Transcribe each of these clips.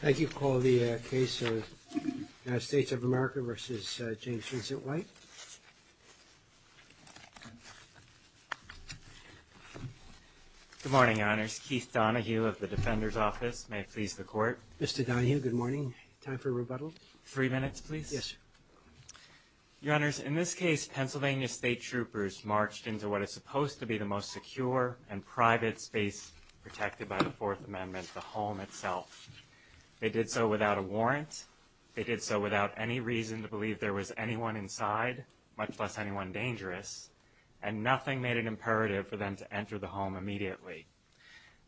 Good morning, Your Honors. Keith Donahue of the Defender's Office. May it please the Court. Mr. Donahue, good morning. Time for rebuttal. Three minutes, please. Yes, sir. Your Honors, in this case, Pennsylvania State Troopers marched into what is supposed to be the most secure and private space protected by the Fourth Amendment, the home itself. They did so without a warrant. They did so without any reason to believe there was anyone inside, much less anyone dangerous. And nothing made it imperative for them to enter the home immediately.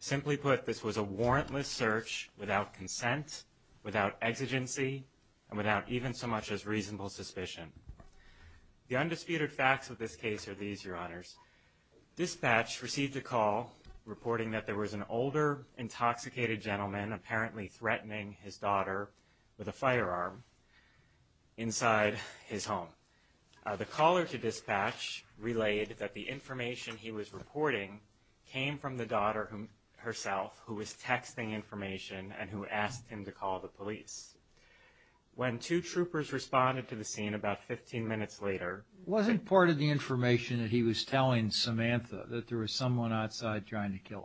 Simply put, this was a warrantless search without consent, without exigency, and without even so much as reasonable suspicion. The undisputed facts of this case are these, Your Honors. Dispatch received a call reporting that there was an older, intoxicated gentleman apparently threatening his daughter with a firearm inside his home. The caller to dispatch relayed that the information he was reporting came from the daughter herself, who was texting information and who asked him to call the police. When two troopers responded to the he was telling Samantha that there was someone outside trying to kill him.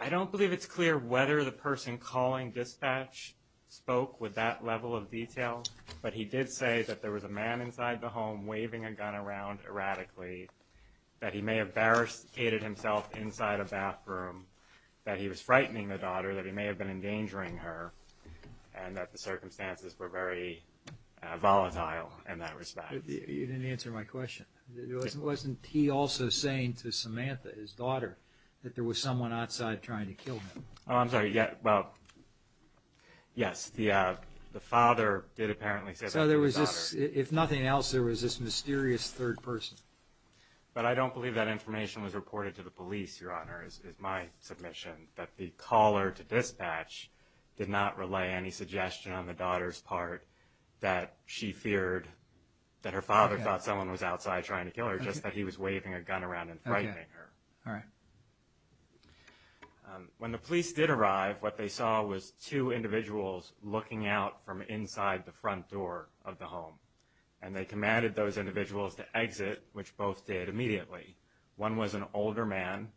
I don't believe it's clear whether the person calling dispatch spoke with that level of detail, but he did say that there was a man inside the home waving a gun around erratically, that he may have barricaded himself inside a bathroom, that he was frightening the daughter, that he may have been endangering her, and that the circumstances were very volatile in that respect. You didn't answer my question. Wasn't he also saying to Samantha, his daughter, that there was someone outside trying to kill him? Oh, I'm sorry. Well, yes. The father did apparently say that to his daughter. So there was this, if nothing else, there was this mysterious third person. But I don't believe that information was reported to the police, Your Honors, is my submission, that the caller to dispatch did not relay any suggestion on the daughter's part that she feared that her father thought someone was outside trying to kill her, just that he was waving a gun around and frightening her. When the police did arrive, what they saw was two individuals looking out from inside the front door of the home. And they commanded those individuals to exit, which both did immediately. One was an older man,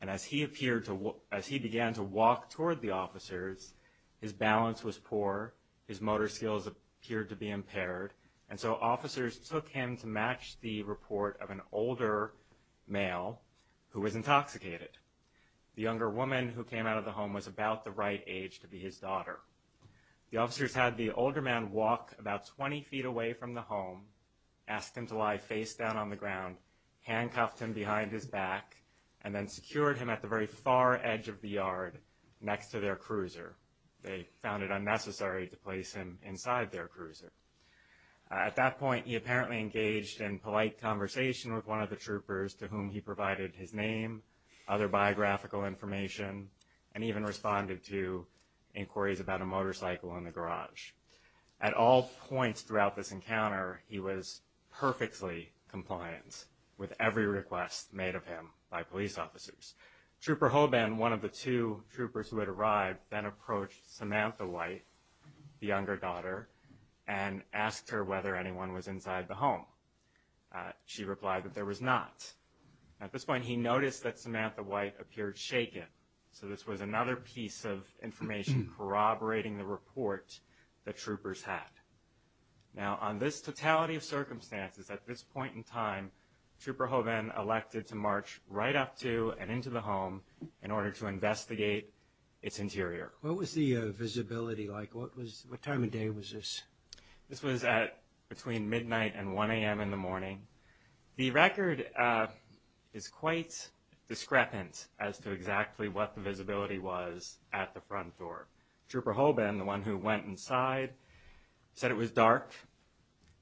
and as he appeared to, as he began to walk toward the officers, his balance was poor, his motor skills appeared to be impaired, and so officers took him to match the report of an older male who was intoxicated. The younger woman who came out of the home was about the right age to be his daughter. The officers had the older man walk about 20 feet away from the home, asked him to lie face down on the ground, handcuffed him behind his back, and then secured him at the very far edge of the yard next to their cruiser. They found it unnecessary to place him inside their cruiser. At that point, he apparently engaged in polite conversation with one of the troopers to whom he provided his name, other biographical information, and even responded to inquiries about a motorcycle in the garage. At all points throughout this Trooper Hoban, one of the two troopers who had arrived, then approached Samantha White, the younger daughter, and asked her whether anyone was inside the home. She replied that there was not. At this point, he noticed that Samantha White appeared shaken, so this was another piece of information corroborating the report the troopers had. Now, on this totality of circumstances, at this point in time, Trooper Hoban elected to march right up to and into the home in order to investigate its interior. What was the visibility like? What time of day was this? This was at between midnight and 1 a.m. in the morning. The record is quite discrepant as to exactly what the visibility was at the front door. Trooper Hoban, the one who went inside, said it was dark.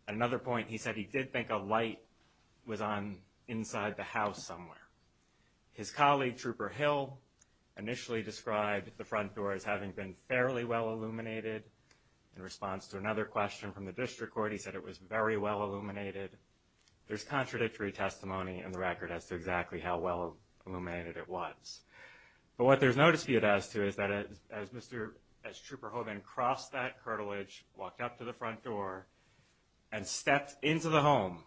At another point, he said he did think a light was on inside the house somewhere. His colleague, Trooper Hill, initially described the front door as having been fairly well illuminated. In response to another question from the district court, he said it was very well illuminated. There's contradictory testimony in the record as to exactly how well illuminated it was. But what there's no dispute as to is that as Trooper Hoban crossed that curtilage, walked up to the front door, and stepped into the home,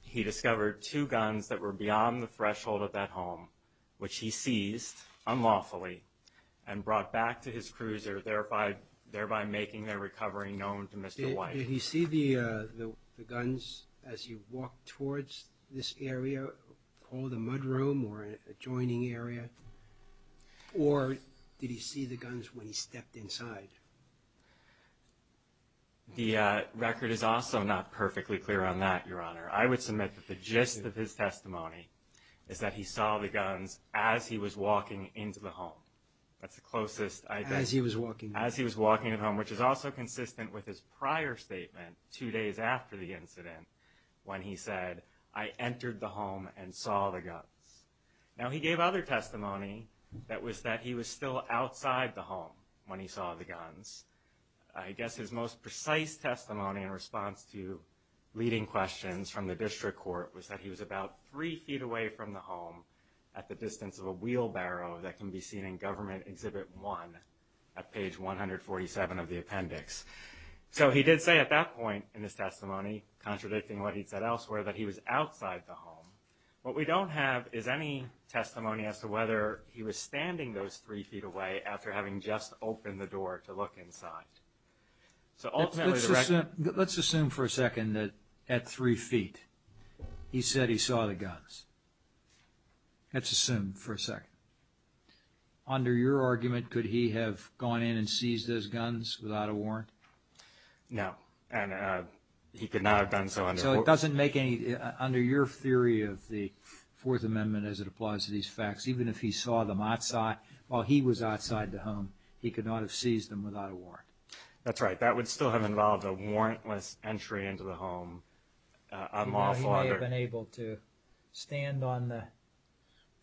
he discovered two guns that were beyond the threshold of that home, which he seized unlawfully and brought back to his cruiser, thereby making their recovery known to Mr. White. Did he see the guns as he walked towards this area called the mudroom or adjoining area? Or did he see the guns when he stepped inside? The record is also not perfectly clear on that, Your Honor. I would submit that the gist of his testimony is that he saw the guns as he was walking into the home. That's the closest I've got. As he was walking. As he was walking into the home, which is also consistent with his prior statement two days after the incident when he said, I entered the home and saw the guns. Now, he gave other testimony that was that he was still outside the home when he saw the guns. I guess his most precise testimony in response to leading questions from the district court was that he was about three feet away from the home at the distance of a wheelbarrow that can be seen in Government Exhibit 1 at page 147 of the appendix. So he did say at that point in his testimony, contradicting what he'd said elsewhere, that he was outside the home. What we don't have is any testimony as to whether he was standing those three feet away after having just opened the door to look inside. So ultimately, the record... Let's assume for a second that at three feet, he said he saw the guns. Let's assume for a second. Under your argument, could he have gone in and seized those guns without a warrant? No. And he could not have done so under... So it doesn't make any... Under your theory of the Fourth Amendment as it applies to these guns, while he was outside the home, he could not have seized them without a warrant. That's right. That would still have involved a warrantless entry into the home, a lawful other. He may have been able to stand on the...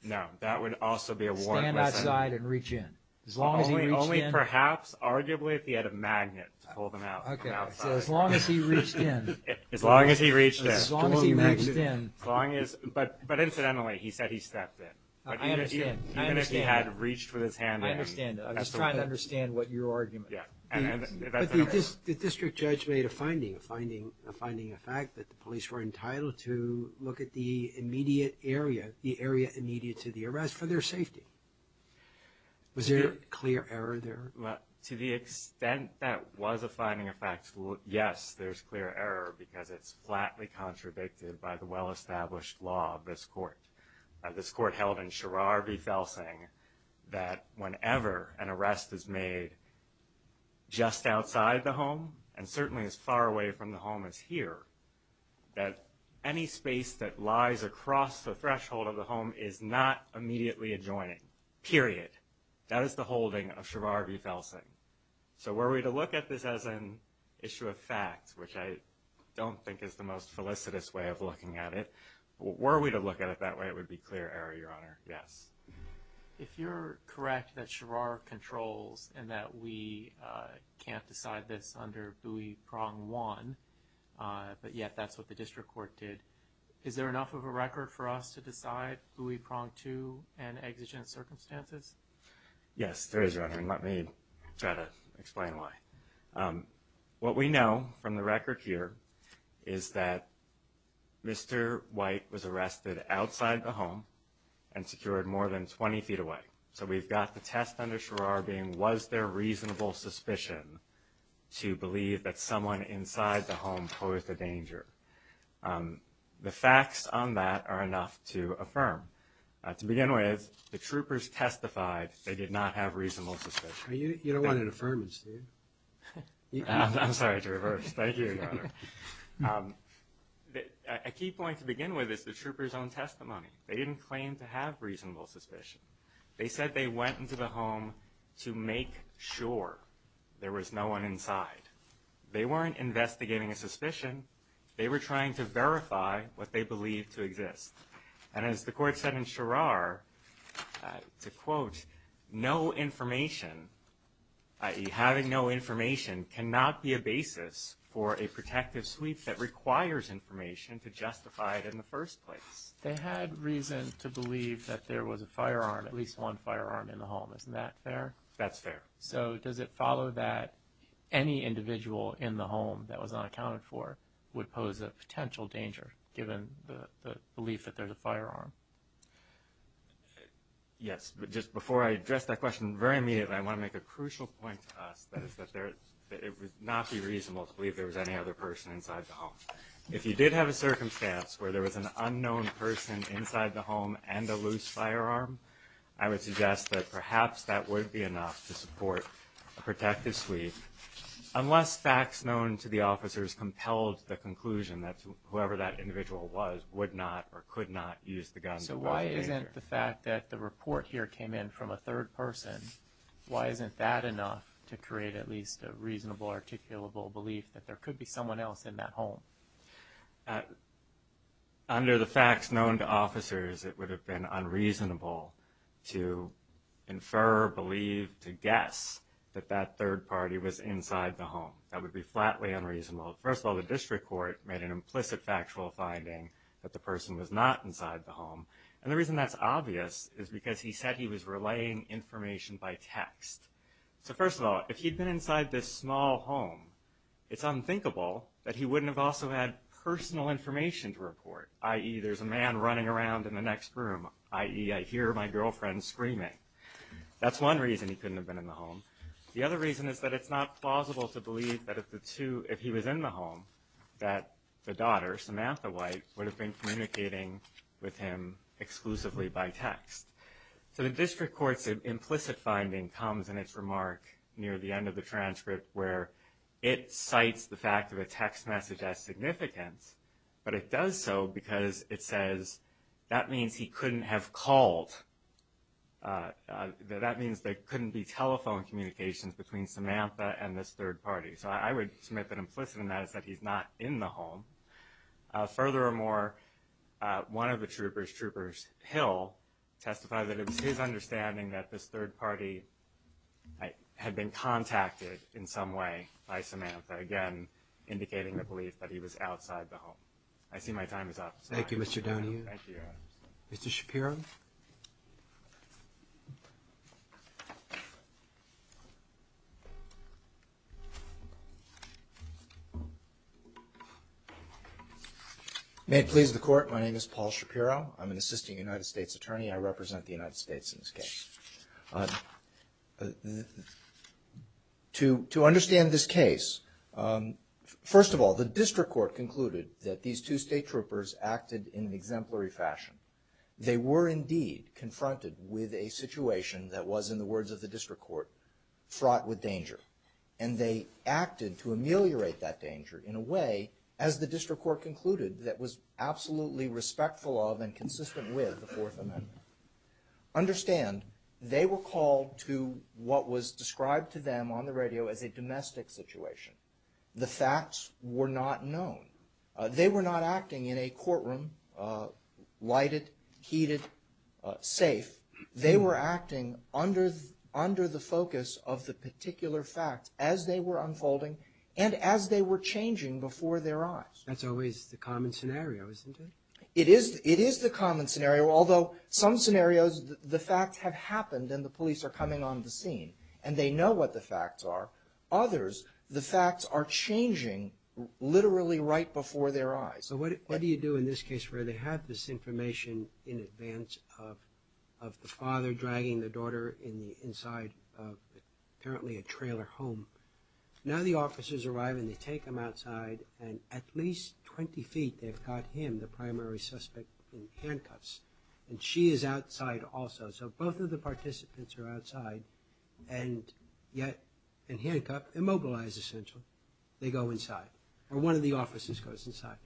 No. That would also be a warrantless entry. Stand outside and reach in. As long as he reached in... Only perhaps, arguably, if he had a magnet to pull them out from outside. Okay. So as long as he reached in... As long as he reached in. As long as he reached in... As long as... But incidentally, he said he stepped in. I understand. Even if he had reached with his hand in... I understand. I was trying to understand what your argument is. But the district judge made a finding, a finding of fact that the police were entitled to look at the immediate area, the area immediate to the arrest, for their safety. Was there a clear error there? To the extent that was a finding of fact, yes, there's clear error because it's flatly contradicted by the well-established law of this court, of this court held in Shirar v. Felsing, that whenever an arrest is made just outside the home, and certainly as far away from the home as here, that any space that lies across the threshold of the home is not immediately adjoining, period. That is the holding of Shirar v. Felsing. So were we to look at this as an issue of fact, which I don't think is the most felicitous way of looking at it, were we to look at it that way, it would be clear error, Your Honor. Yes. If you're correct that Shirar controls and that we can't decide this under Bouie Prong 1, but yet that's what the district court did, is there enough of a record for us to decide Bouie Prong 2 and exigent circumstances? Yes, there is, Your Honor, and let me try to explain why. What we know from the record here is that Mr. White was arrested outside the home and secured more than 20 feet away. So we've got the test under Shirar being was there reasonable suspicion to believe that someone inside the home posed a danger. The facts on that are enough to affirm. To begin with, the troopers testified they did not have reasonable suspicion. You don't want an affirmance, do you? I'm sorry to reverse. Thank you, Your Honor. A key point to begin with is the troopers' own testimony. They didn't claim to have reasonable suspicion. They said they went into the home to make sure there was no one inside. They weren't investigating a suspicion. They were trying to verify what they believed to exist. And as the court said in Shirar, to quote, no information, i.e., having no information, cannot be a basis for a protective sweep that requires information to justify it in the first place. They had reason to believe that there was a firearm, at least one firearm in the home. Isn't that fair? That's fair. So does it follow that any individual in the home that was unaccounted for would pose a potential danger given the belief that there's a firearm? Yes. But just before I address that question very immediately, I want to make a crucial point to us, that is that it would not be reasonable to believe there was any other person inside the home. If you did have a circumstance where there was an unknown person inside the home and a loose firearm, I would suggest that perhaps that would be enough to support a protective sweep. Unless facts known to the officers compelled the conclusion that whoever that individual was would not or could not use the gun to investigate. So why isn't the fact that the report here came in from a third person, why isn't that enough to create at least a reasonable, articulable belief that there could be someone else in that home? Under the facts known to officers, it would have been unreasonable to infer, believe, to guess that that third party was inside the home. That would be flatly unreasonable. First of all, the district court made an implicit factual finding that the person was not inside the home. And the reason that's obvious is because he said he was relaying information by text. So first of all, if he'd been inside this small home, it's unthinkable that he wouldn't have also had personal information to report, i.e., there's a man running around in the next room, i.e., I hear my girlfriend screaming. That's one reason he couldn't have been in the home. The other reason is that it's not plausible to believe that if he was in the home, that the daughter, Samantha White, would have been communicating with him exclusively by text. So the district court's implicit finding comes in its remark near the end of the transcript where it cites the fact of a text message as significant, but it does so because it says that means he couldn't have called. That means there couldn't be telephone communications between Samantha and this third party. So I would submit that implicit in that is that he's not in the home. Furthermore, one of the troopers, Troopers Hill, testified that it was his understanding that this third party had been contacted in some way by Samantha, again indicating the belief that he was outside the home. I see my time is up. Thank you, Mr. Donohue. Thank you, Your Honor. Mr. Shapiro. May it please the Court, my name is Paul Shapiro. I'm an assisting United States attorney. I represent the United States in this case. To understand this case, first of all, the district court concluded that these two state troopers acted in an exemplary fashion. They were indeed confronted with a situation that was, in the words of the district court, fraught with danger. And they acted to ameliorate that danger in a way, as the district court concluded, that was absolutely respectful of and consistent with the Fourth Amendment. Understand, they were called to what was described to them on the radio as a domestic situation. The facts were not known. They were not acting in a courtroom, lighted, heated, safe. They were acting under the focus of the particular facts as they were unfolding and as they were changing before their eyes. That's always the common scenario, isn't it? It is the common scenario, although some scenarios the facts have happened and the police are coming on the scene and they know what the facts are. Others, the facts are changing literally right before their eyes. So what do you do in this case where they have this information in advance of the father dragging the daughter in the inside of apparently a trailer home? Now the officers arrive and they take them outside and at least 20 feet they've got him, the primary suspect, in handcuffs. And she is outside also. So both of the participants are outside and yet in handcuffs, immobilized essentially, they go inside. Or one of the officers goes inside.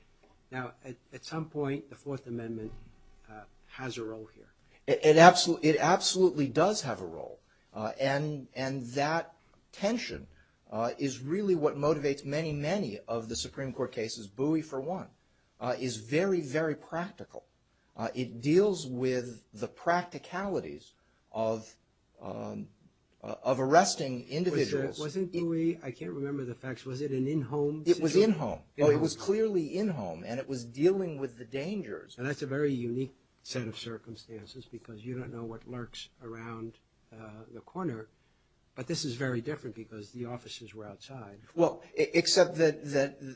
Now at some point the Fourth Amendment has a role here. It absolutely does have a role. And that tension is really what motivates many, many of the Supreme Court cases. Bowie, for one, is very, very practical. It deals with the practicalities of arresting individuals. Wasn't Bowie, I can't remember the facts, was it an in-home situation? It was in-home. Oh, it was clearly in-home and it was dealing with the dangers. And that's a very unique set of circumstances because you don't know what lurks around the corner. But this is very different because the officers were outside. Well, except that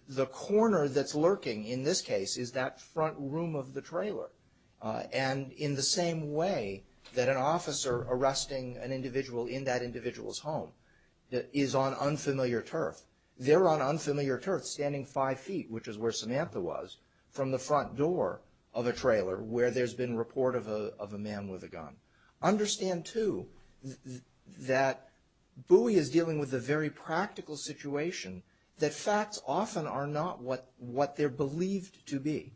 the corner that's lurking in this case is that front room of the trailer. And in the same way that an officer arresting an individual in that individual's home is on unfamiliar turf, they're on unfamiliar turf standing five feet, which is where Samantha was, from the front door of a trailer where there's been report of a man with a gun. Understand, too, that Bowie is dealing with a very practical situation, that facts often are not what they're believed to be.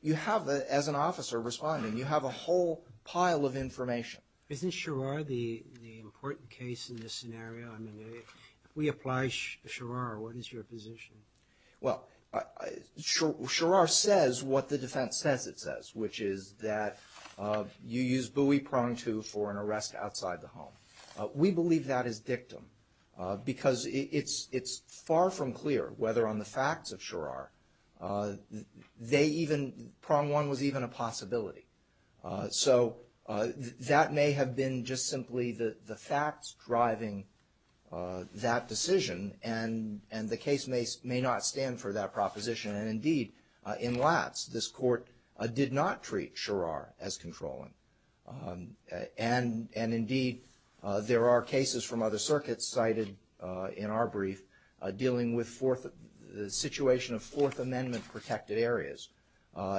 You have, as an officer responding, you have a whole pile of information. Isn't Sharrar the important case in this scenario? I mean, if we apply Sharrar, what is your position? Well, Sharrar says what the defense says it says, which is that you use Bowie, prong two, for an arrest outside the home. We believe that is dictum because it's far from clear whether on the facts of Sharrar they even, prong one, was even a possibility. So that may have been just simply the facts driving that decision, and the case may not stand for that proposition. And, indeed, in Latz, this court did not treat Sharrar as controlling. And, indeed, there are cases from other circuits cited in our brief dealing with the situation of Fourth Amendment protected areas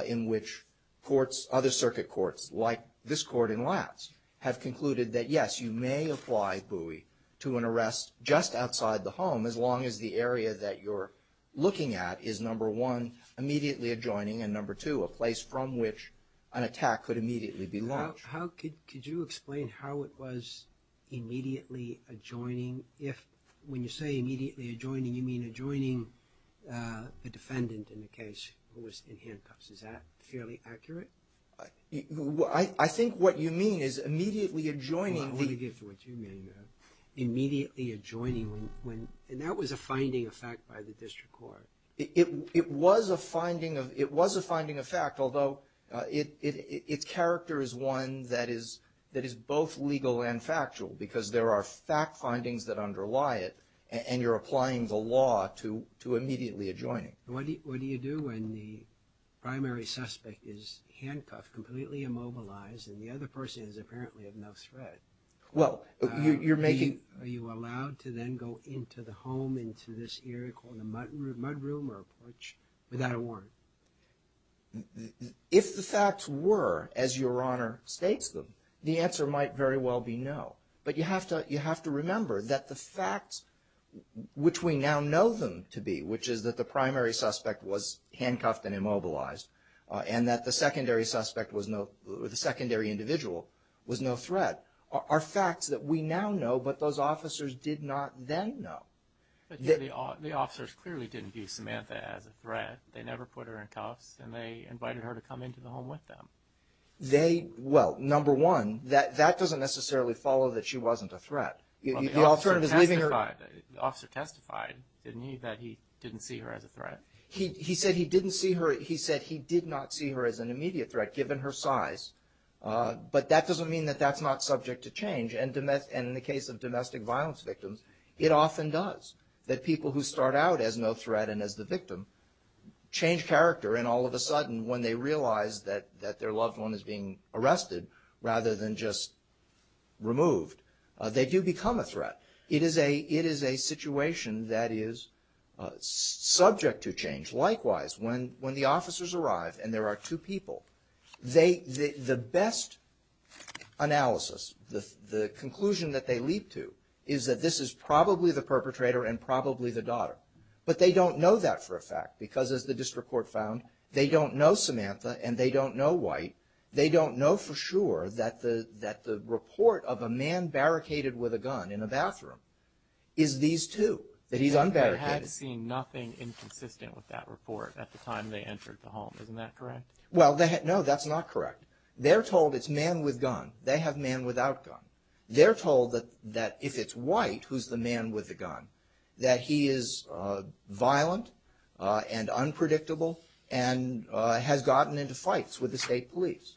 in which courts, other circuit courts like this court in Latz, have concluded that, yes, you may apply Bowie to an arrest just outside the home, as long as the area that you're looking at is, number one, immediately adjoining, and, number two, a place from which an attack could immediately be launched. Could you explain how it was immediately adjoining? When you say immediately adjoining, you mean adjoining the defendant in the case who was in handcuffs. Is that fairly accurate? I think what you mean is immediately adjoining the — Well, I want to get to what you mean there. Immediately adjoining when — and that was a finding of fact by the district court. It was a finding of fact, although its character is one that is both legal and factual, because there are fact findings that underlie it, and you're applying the law to immediately adjoining. What do you do when the primary suspect is handcuffed, completely immobilized, and the other person is apparently of no threat? Well, you're making — Are you allowed to then go into the home, into this area called a mudroom or a porch without a warrant? If the facts were as Your Honor states them, the answer might very well be no. But you have to remember that the facts which we now know them to be, which is that the primary suspect was handcuffed and immobilized, and that the secondary suspect was no — or the secondary individual was no threat, are facts that we now know but those officers did not then know. But the officers clearly didn't view Samantha as a threat. They never put her in cuffs, and they invited her to come into the home with them. They — well, number one, that doesn't necessarily follow that she wasn't a threat. The alternative is leaving her — Well, the officer testified, didn't he, that he didn't see her as a threat? He said he didn't see her — he said he did not see her as an immediate threat, given her size. But that doesn't mean that that's not subject to change. And in the case of domestic violence victims, it often does. That people who start out as no threat and as the victim change character, and all of a sudden when they realize that their loved one is being arrested rather than just removed, they do become a threat. It is a situation that is subject to change. Likewise, when the officers arrive and there are two people, the best analysis, the conclusion that they leap to, is that this is probably the perpetrator and probably the daughter. But they don't know that for a fact because, as the district court found, they don't know Samantha and they don't know White. They don't know for sure that the report of a man barricaded with a gun in a bathroom is these two, that he's unbarricaded. They had seen nothing inconsistent with that report at the time they entered the home. Isn't that correct? Well, no, that's not correct. They're told it's man with gun. They have man without gun. They're told that if it's White, who's the man with the gun, that he is violent and unpredictable and has gotten into fights with the state police.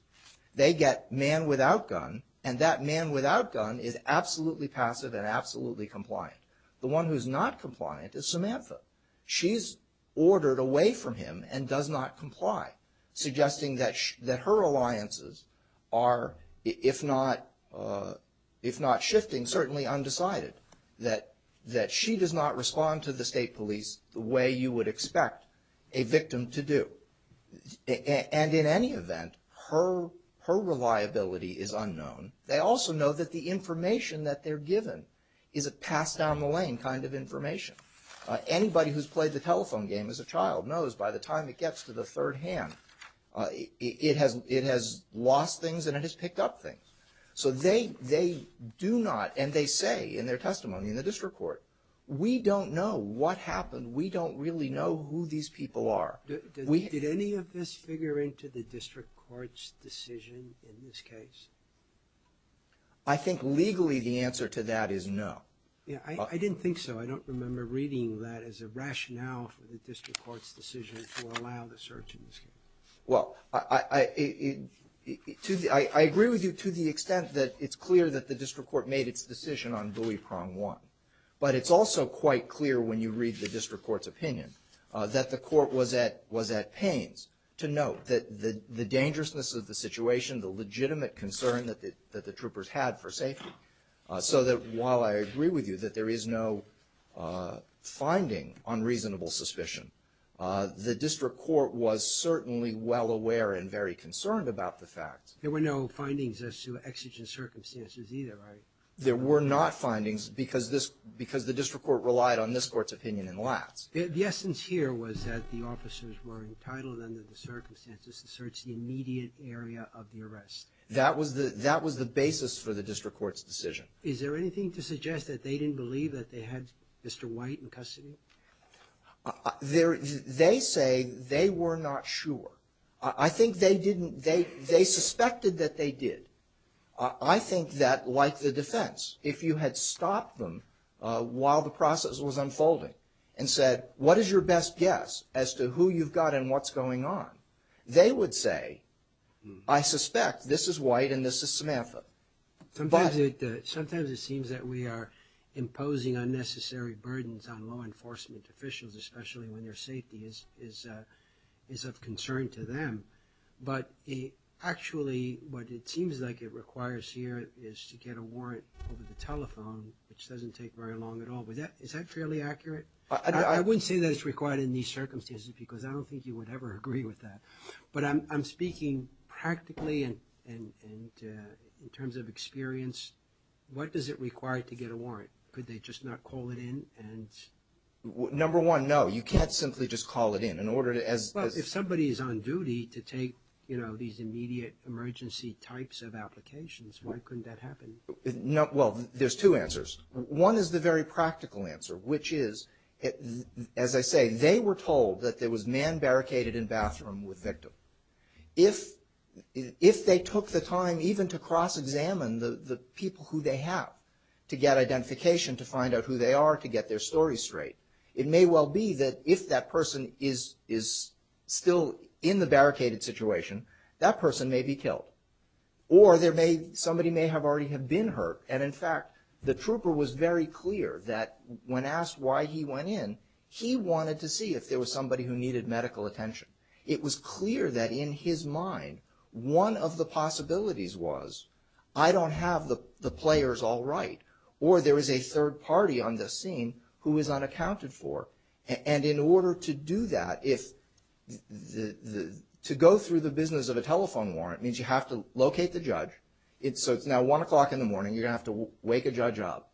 They get man without gun, and that man without gun is absolutely passive and absolutely compliant. The one who's not compliant is Samantha. She's ordered away from him and does not comply, suggesting that her alliances are, if not shifting, certainly undecided, that she does not respond to the state police the way you would expect a victim to do. And in any event, her reliability is unknown. They also know that the information that they're given is a pass-down-the-lane kind of information. Anybody who's played the telephone game as a child knows by the time it gets to the third hand, it has lost things and it has picked up things. So they do not, and they say in their testimony in the district court, we don't know what happened. We don't really know who these people are. Did any of this figure into the district court's decision in this case? I think legally the answer to that is no. I didn't think so. I don't remember reading that as a rationale for the district court's decision to allow the search in this case. Well, I agree with you to the extent that it's clear that the district court made its decision on Buoy Prong 1. But it's also quite clear when you read the district court's opinion that the court was at pains to note that the dangerousness of the situation, the legitimate concern that the troopers had for safety, so that while I agree with you that there is no finding on reasonable suspicion, the district court was certainly well aware and very concerned about the fact. There were no findings as to exigent circumstances either, right? There were not findings because the district court relied on this court's opinion in lats. The essence here was that the officers were entitled under the circumstances to search the immediate area of the arrest. That was the basis for the district court's decision. Is there anything to suggest that they didn't believe that they had Mr. White in custody? They say they were not sure. I think they didn't they suspected that they did. I think that, like the defense, if you had stopped them while the process was unfolding and said, what is your best guess as to who you've got and what's going on, they would say, I suspect this is White and this is Samantha. Sometimes it seems that we are imposing unnecessary burdens on law enforcement officials, especially when their safety is of concern to them. But actually what it seems like it requires here is to get a warrant over the telephone, which doesn't take very long at all. Is that fairly accurate? I wouldn't say that it's required in these circumstances because I don't think you would ever agree with that. But I'm speaking practically in terms of experience. What does it require to get a warrant? Could they just not call it in? Number one, no, you can't simply just call it in. Well, if somebody is on duty to take, you know, these immediate emergency types of applications, why couldn't that happen? Well, there's two answers. One is the very practical answer, which is, as I say, they were told that there was man barricaded in bathroom with victim. If they took the time even to cross-examine the people who they have to get identification, to find out who they are, to get their story straight, it may well be that if that person is still in the barricaded situation, that person may be killed. Or somebody may have already been hurt. And in fact, the trooper was very clear that when asked why he went in, he wanted to see if there was somebody who needed medical attention. It was clear that in his mind, one of the possibilities was, I don't have the players all right, or there is a third party on the scene who is unaccounted for. And in order to do that, to go through the business of a telephone warrant means you have to locate the judge. So it's now 1 o'clock in the morning. You're going to have to wake a judge up.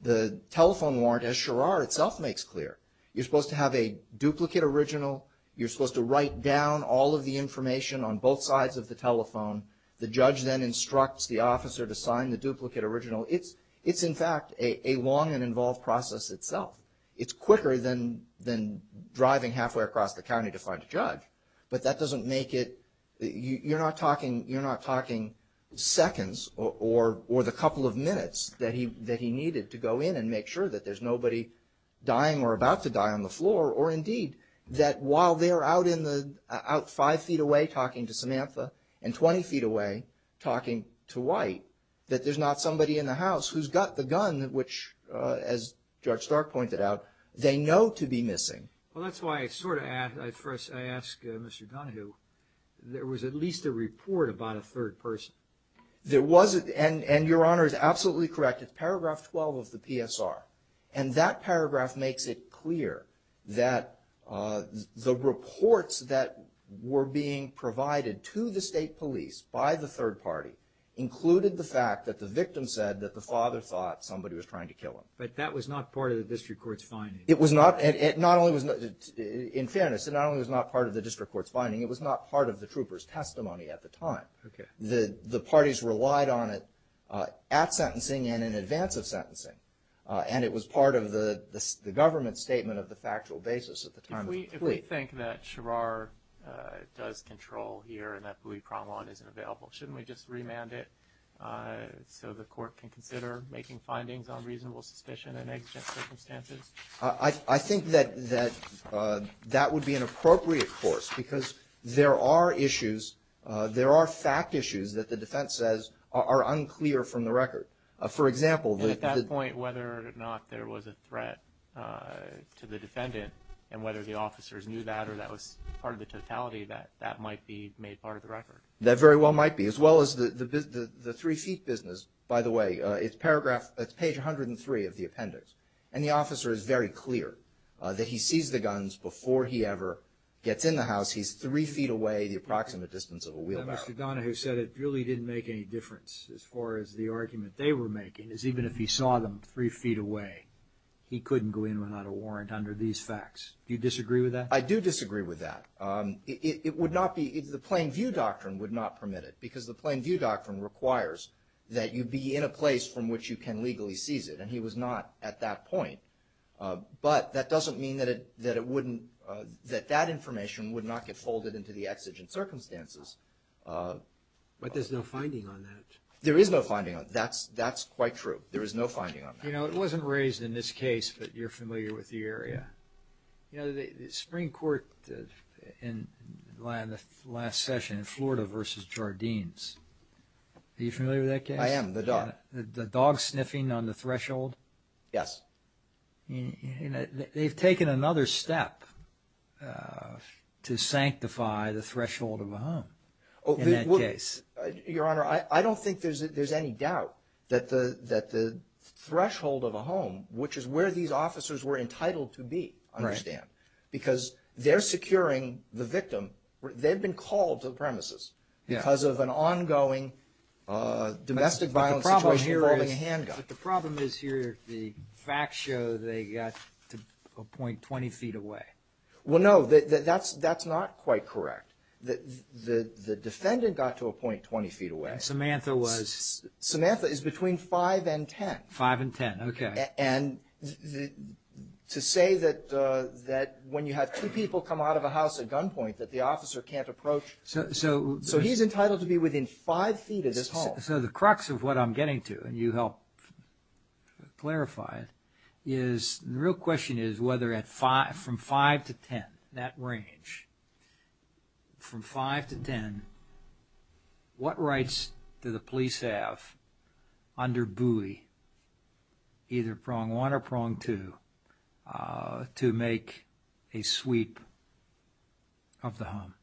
The telephone warrant, as Charar itself makes clear, you're supposed to have a duplicate original. You're supposed to write down all of the information on both sides of the telephone. The judge then instructs the officer to sign the duplicate original. It's in fact a long and involved process itself. But that doesn't make it, you're not talking seconds or the couple of minutes that he needed to go in and make sure that there's nobody dying or about to die on the floor. Or indeed, that while they're out five feet away talking to Samantha and 20 feet away talking to White, that there's not somebody in the house who's got the gun, which as Judge Stark pointed out, they know to be missing. Well, that's why I sort of ask, first I ask Mr. Donohue, there was at least a report about a third person. There was, and Your Honor is absolutely correct. It's paragraph 12 of the PSR. And that paragraph makes it clear that the reports that were being provided to the state police by the third party included the fact that the victim said that the father thought somebody was trying to kill him. But that was not part of the district court's finding. It was not, and not only was, in fairness, it not only was not part of the district court's finding, it was not part of the trooper's testimony at the time. Okay. The parties relied on it at sentencing and in advance of sentencing. And it was part of the government's statement of the factual basis at the time. If we think that Sherrar does control here and that Bouie-Promont isn't available, shouldn't we just remand it so the court can consider making findings on reasonable suspicion in exigent circumstances? I think that that would be an appropriate course because there are issues, there are fact issues that the defense says are unclear from the record. For example, the – And at that point, whether or not there was a threat to the defendant and whether the officers knew that or that was part of the totality, that might be made part of the record. That very well might be, as well as the three-feet business, by the way. It's paragraph – it's page 103 of the appendix. And the officer is very clear that he sees the guns before he ever gets in the house. He's three feet away, the approximate distance of a wheelbarrow. But Mr. Donahue said it really didn't make any difference as far as the argument they were making, is even if he saw them three feet away, he couldn't go in without a warrant under these facts. Do you disagree with that? I do disagree with that. It would not be – the plain view doctrine would not permit it because the plain view doctrine requires that you be in a place from which you can legally seize it. And he was not at that point. But that doesn't mean that it wouldn't – that that information would not get folded into the exigent circumstances. But there's no finding on that. There is no finding on it. That's quite true. There is no finding on that. You know, it wasn't raised in this case, but you're familiar with the area. You know, the Supreme Court in the last session in Florida versus Jardines, are you familiar with that case? I am, the dog. The dog sniffing on the threshold? Yes. They've taken another step to sanctify the threshold of a home in that case. Your Honor, I don't think there's any doubt that the threshold of a home, which is where these officers were entitled to be, understand. Right. Because they're securing the victim. They've been called to the premises because of an ongoing domestic violence situation involving a handgun. But the problem is here, the facts show they got to a point 20 feet away. Well, no, that's not quite correct. The defendant got to a point 20 feet away. And Samantha was? Samantha is between 5 and 10. 5 and 10, okay. And to say that when you have two people come out of a house at gunpoint, that the officer can't approach. So he's entitled to be within 5 feet of this home. So the crux of what I'm getting to, and you helped clarify it, is the real question is whether from 5 to 10, that range, from 5 to 10, what rights do the police have under Bowie, either prong one or prong two, to make a sweep of the home?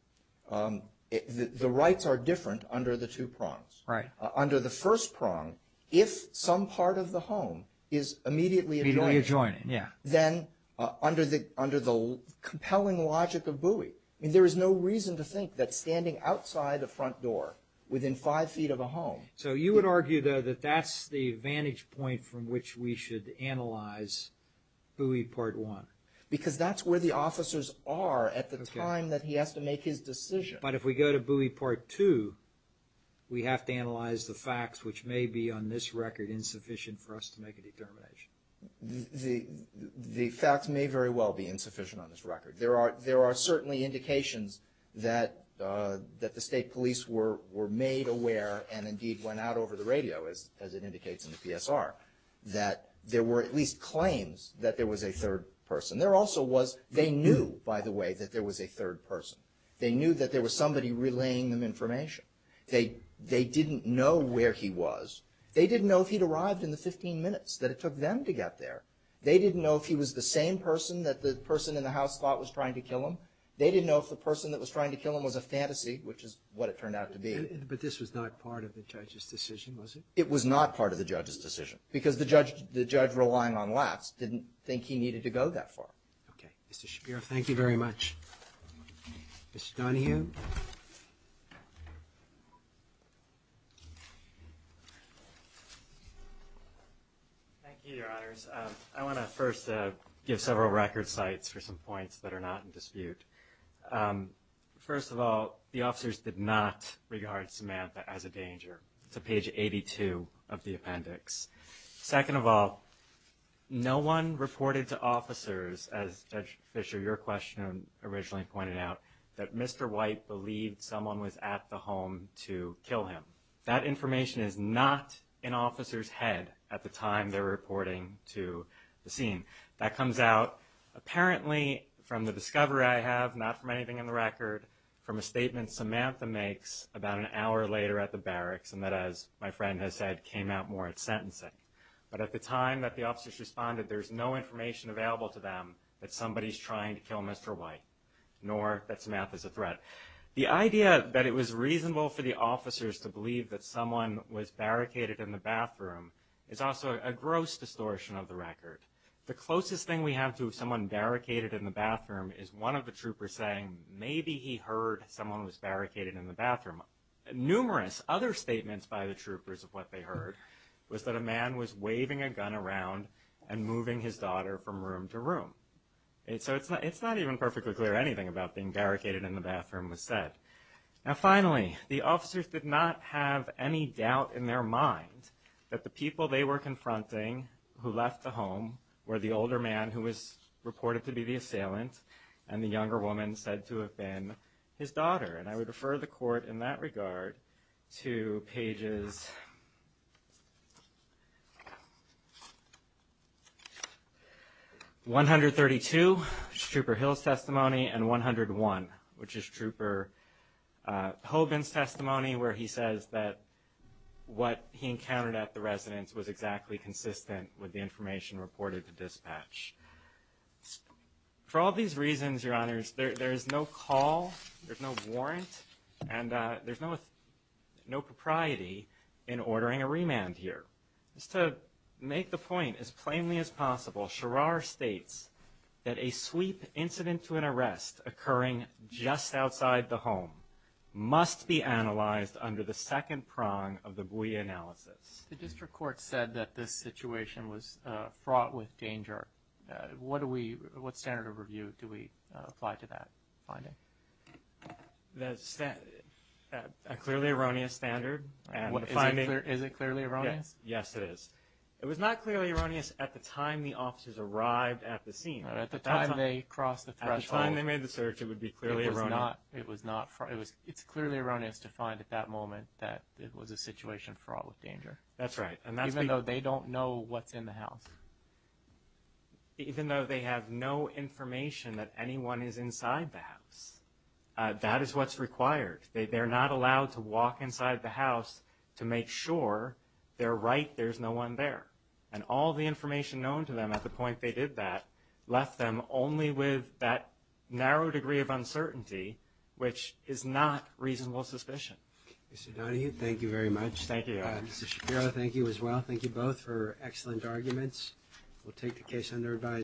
The rights are different under the two prongs. Right. Under the first prong, if some part of the home is immediately adjoining, then under the compelling logic of Bowie, I mean, there is no reason to think that standing outside the front door, within 5 feet of a home. So you would argue, though, that that's the vantage point from which we should analyze Bowie Part 1? Because that's where the officers are at the time that he has to make his decision. But if we go to Bowie Part 2, we have to analyze the facts, which may be on this record insufficient for us to make a determination. The facts may very well be insufficient on this record. There are certainly indications that the state police were made aware, and indeed went out over the radio, as it indicates in the PSR, that there were at least claims that there was a third person. There also was, they knew, by the way, that there was a third person. They knew that there was somebody relaying them information. They didn't know where he was. They didn't know if he'd arrived in the 15 minutes that it took them to get there. They didn't know if he was the same person that the person in the house thought was trying to kill him. They didn't know if the person that was trying to kill him was a fantasy, which is what it turned out to be. But this was not part of the judge's decision, was it? It was not part of the judge's decision, because the judge relying on laughs didn't think he needed to go that far. Okay. Mr. Shapiro, thank you very much. Mr. Donohue. Thank you, Your Honors. I want to first give several record sites for some points that are not in dispute. First of all, the officers did not regard Samantha as a danger. It's on page 82 of the appendix. Second of all, no one reported to officers, as Judge Fischer, your question originally pointed out, that Mr. White, believed someone was at the home to kill him. That information is not in officers' head at the time they're reporting to the scene. That comes out apparently from the discovery I have, not from anything in the record, from a statement Samantha makes about an hour later at the barracks, and that, as my friend has said, came out more at sentencing. But at the time that the officers responded, there's no information available to them that somebody's trying to kill Mr. White, nor that Samantha's a threat. The idea that it was reasonable for the officers to believe that someone was barricaded in the bathroom is also a gross distortion of the record. The closest thing we have to someone barricaded in the bathroom is one of the troopers saying, maybe he heard someone was barricaded in the bathroom. Numerous other statements by the troopers of what they heard was that a man was waving a gun around and moving his daughter from room to room. So it's not even perfectly clear anything about being barricaded in the bathroom was said. Now finally, the officers did not have any doubt in their mind that the people they were confronting who left the home were the older man who was reported to be the assailant and the younger woman said to have been his daughter. And I would refer the court in that regard to pages 132, which is Trooper Hill's testimony, and 101, which is Trooper Hoban's testimony where he says that what he encountered at the residence was exactly consistent with the information reported to dispatch. For all these reasons, Your Honors, there is no call, there's no warrant, and there's no propriety in ordering a remand here. Just to make the point as plainly as possible, Sherrar states that a sweep incident to an arrest occurring just outside the home must be analyzed under the second prong of the buoy analysis. The district court said that this situation was fraught with danger. What standard of review do we apply to that finding? A clearly erroneous standard. Is it clearly erroneous? Yes, it is. It was not clearly erroneous at the time the officers arrived at the scene. At the time they crossed the threshold. At the time they made the search, it would be clearly erroneous. It's clearly erroneous to find at that moment that it was a situation fraught with danger. That's right. Even though they don't know what's in the house. Even though they have no information that anyone is inside the house. That is what's required. They're not allowed to walk inside the house to make sure they're right, there's no one there. And all the information known to them at the point they did that left them only with that narrow degree of uncertainty, which is not reasonable suspicion. Mr. Donahue, thank you very much. Thank you. Mr. Shapiro, thank you as well. Thank you both for excellent arguments. We'll take the case under advisory.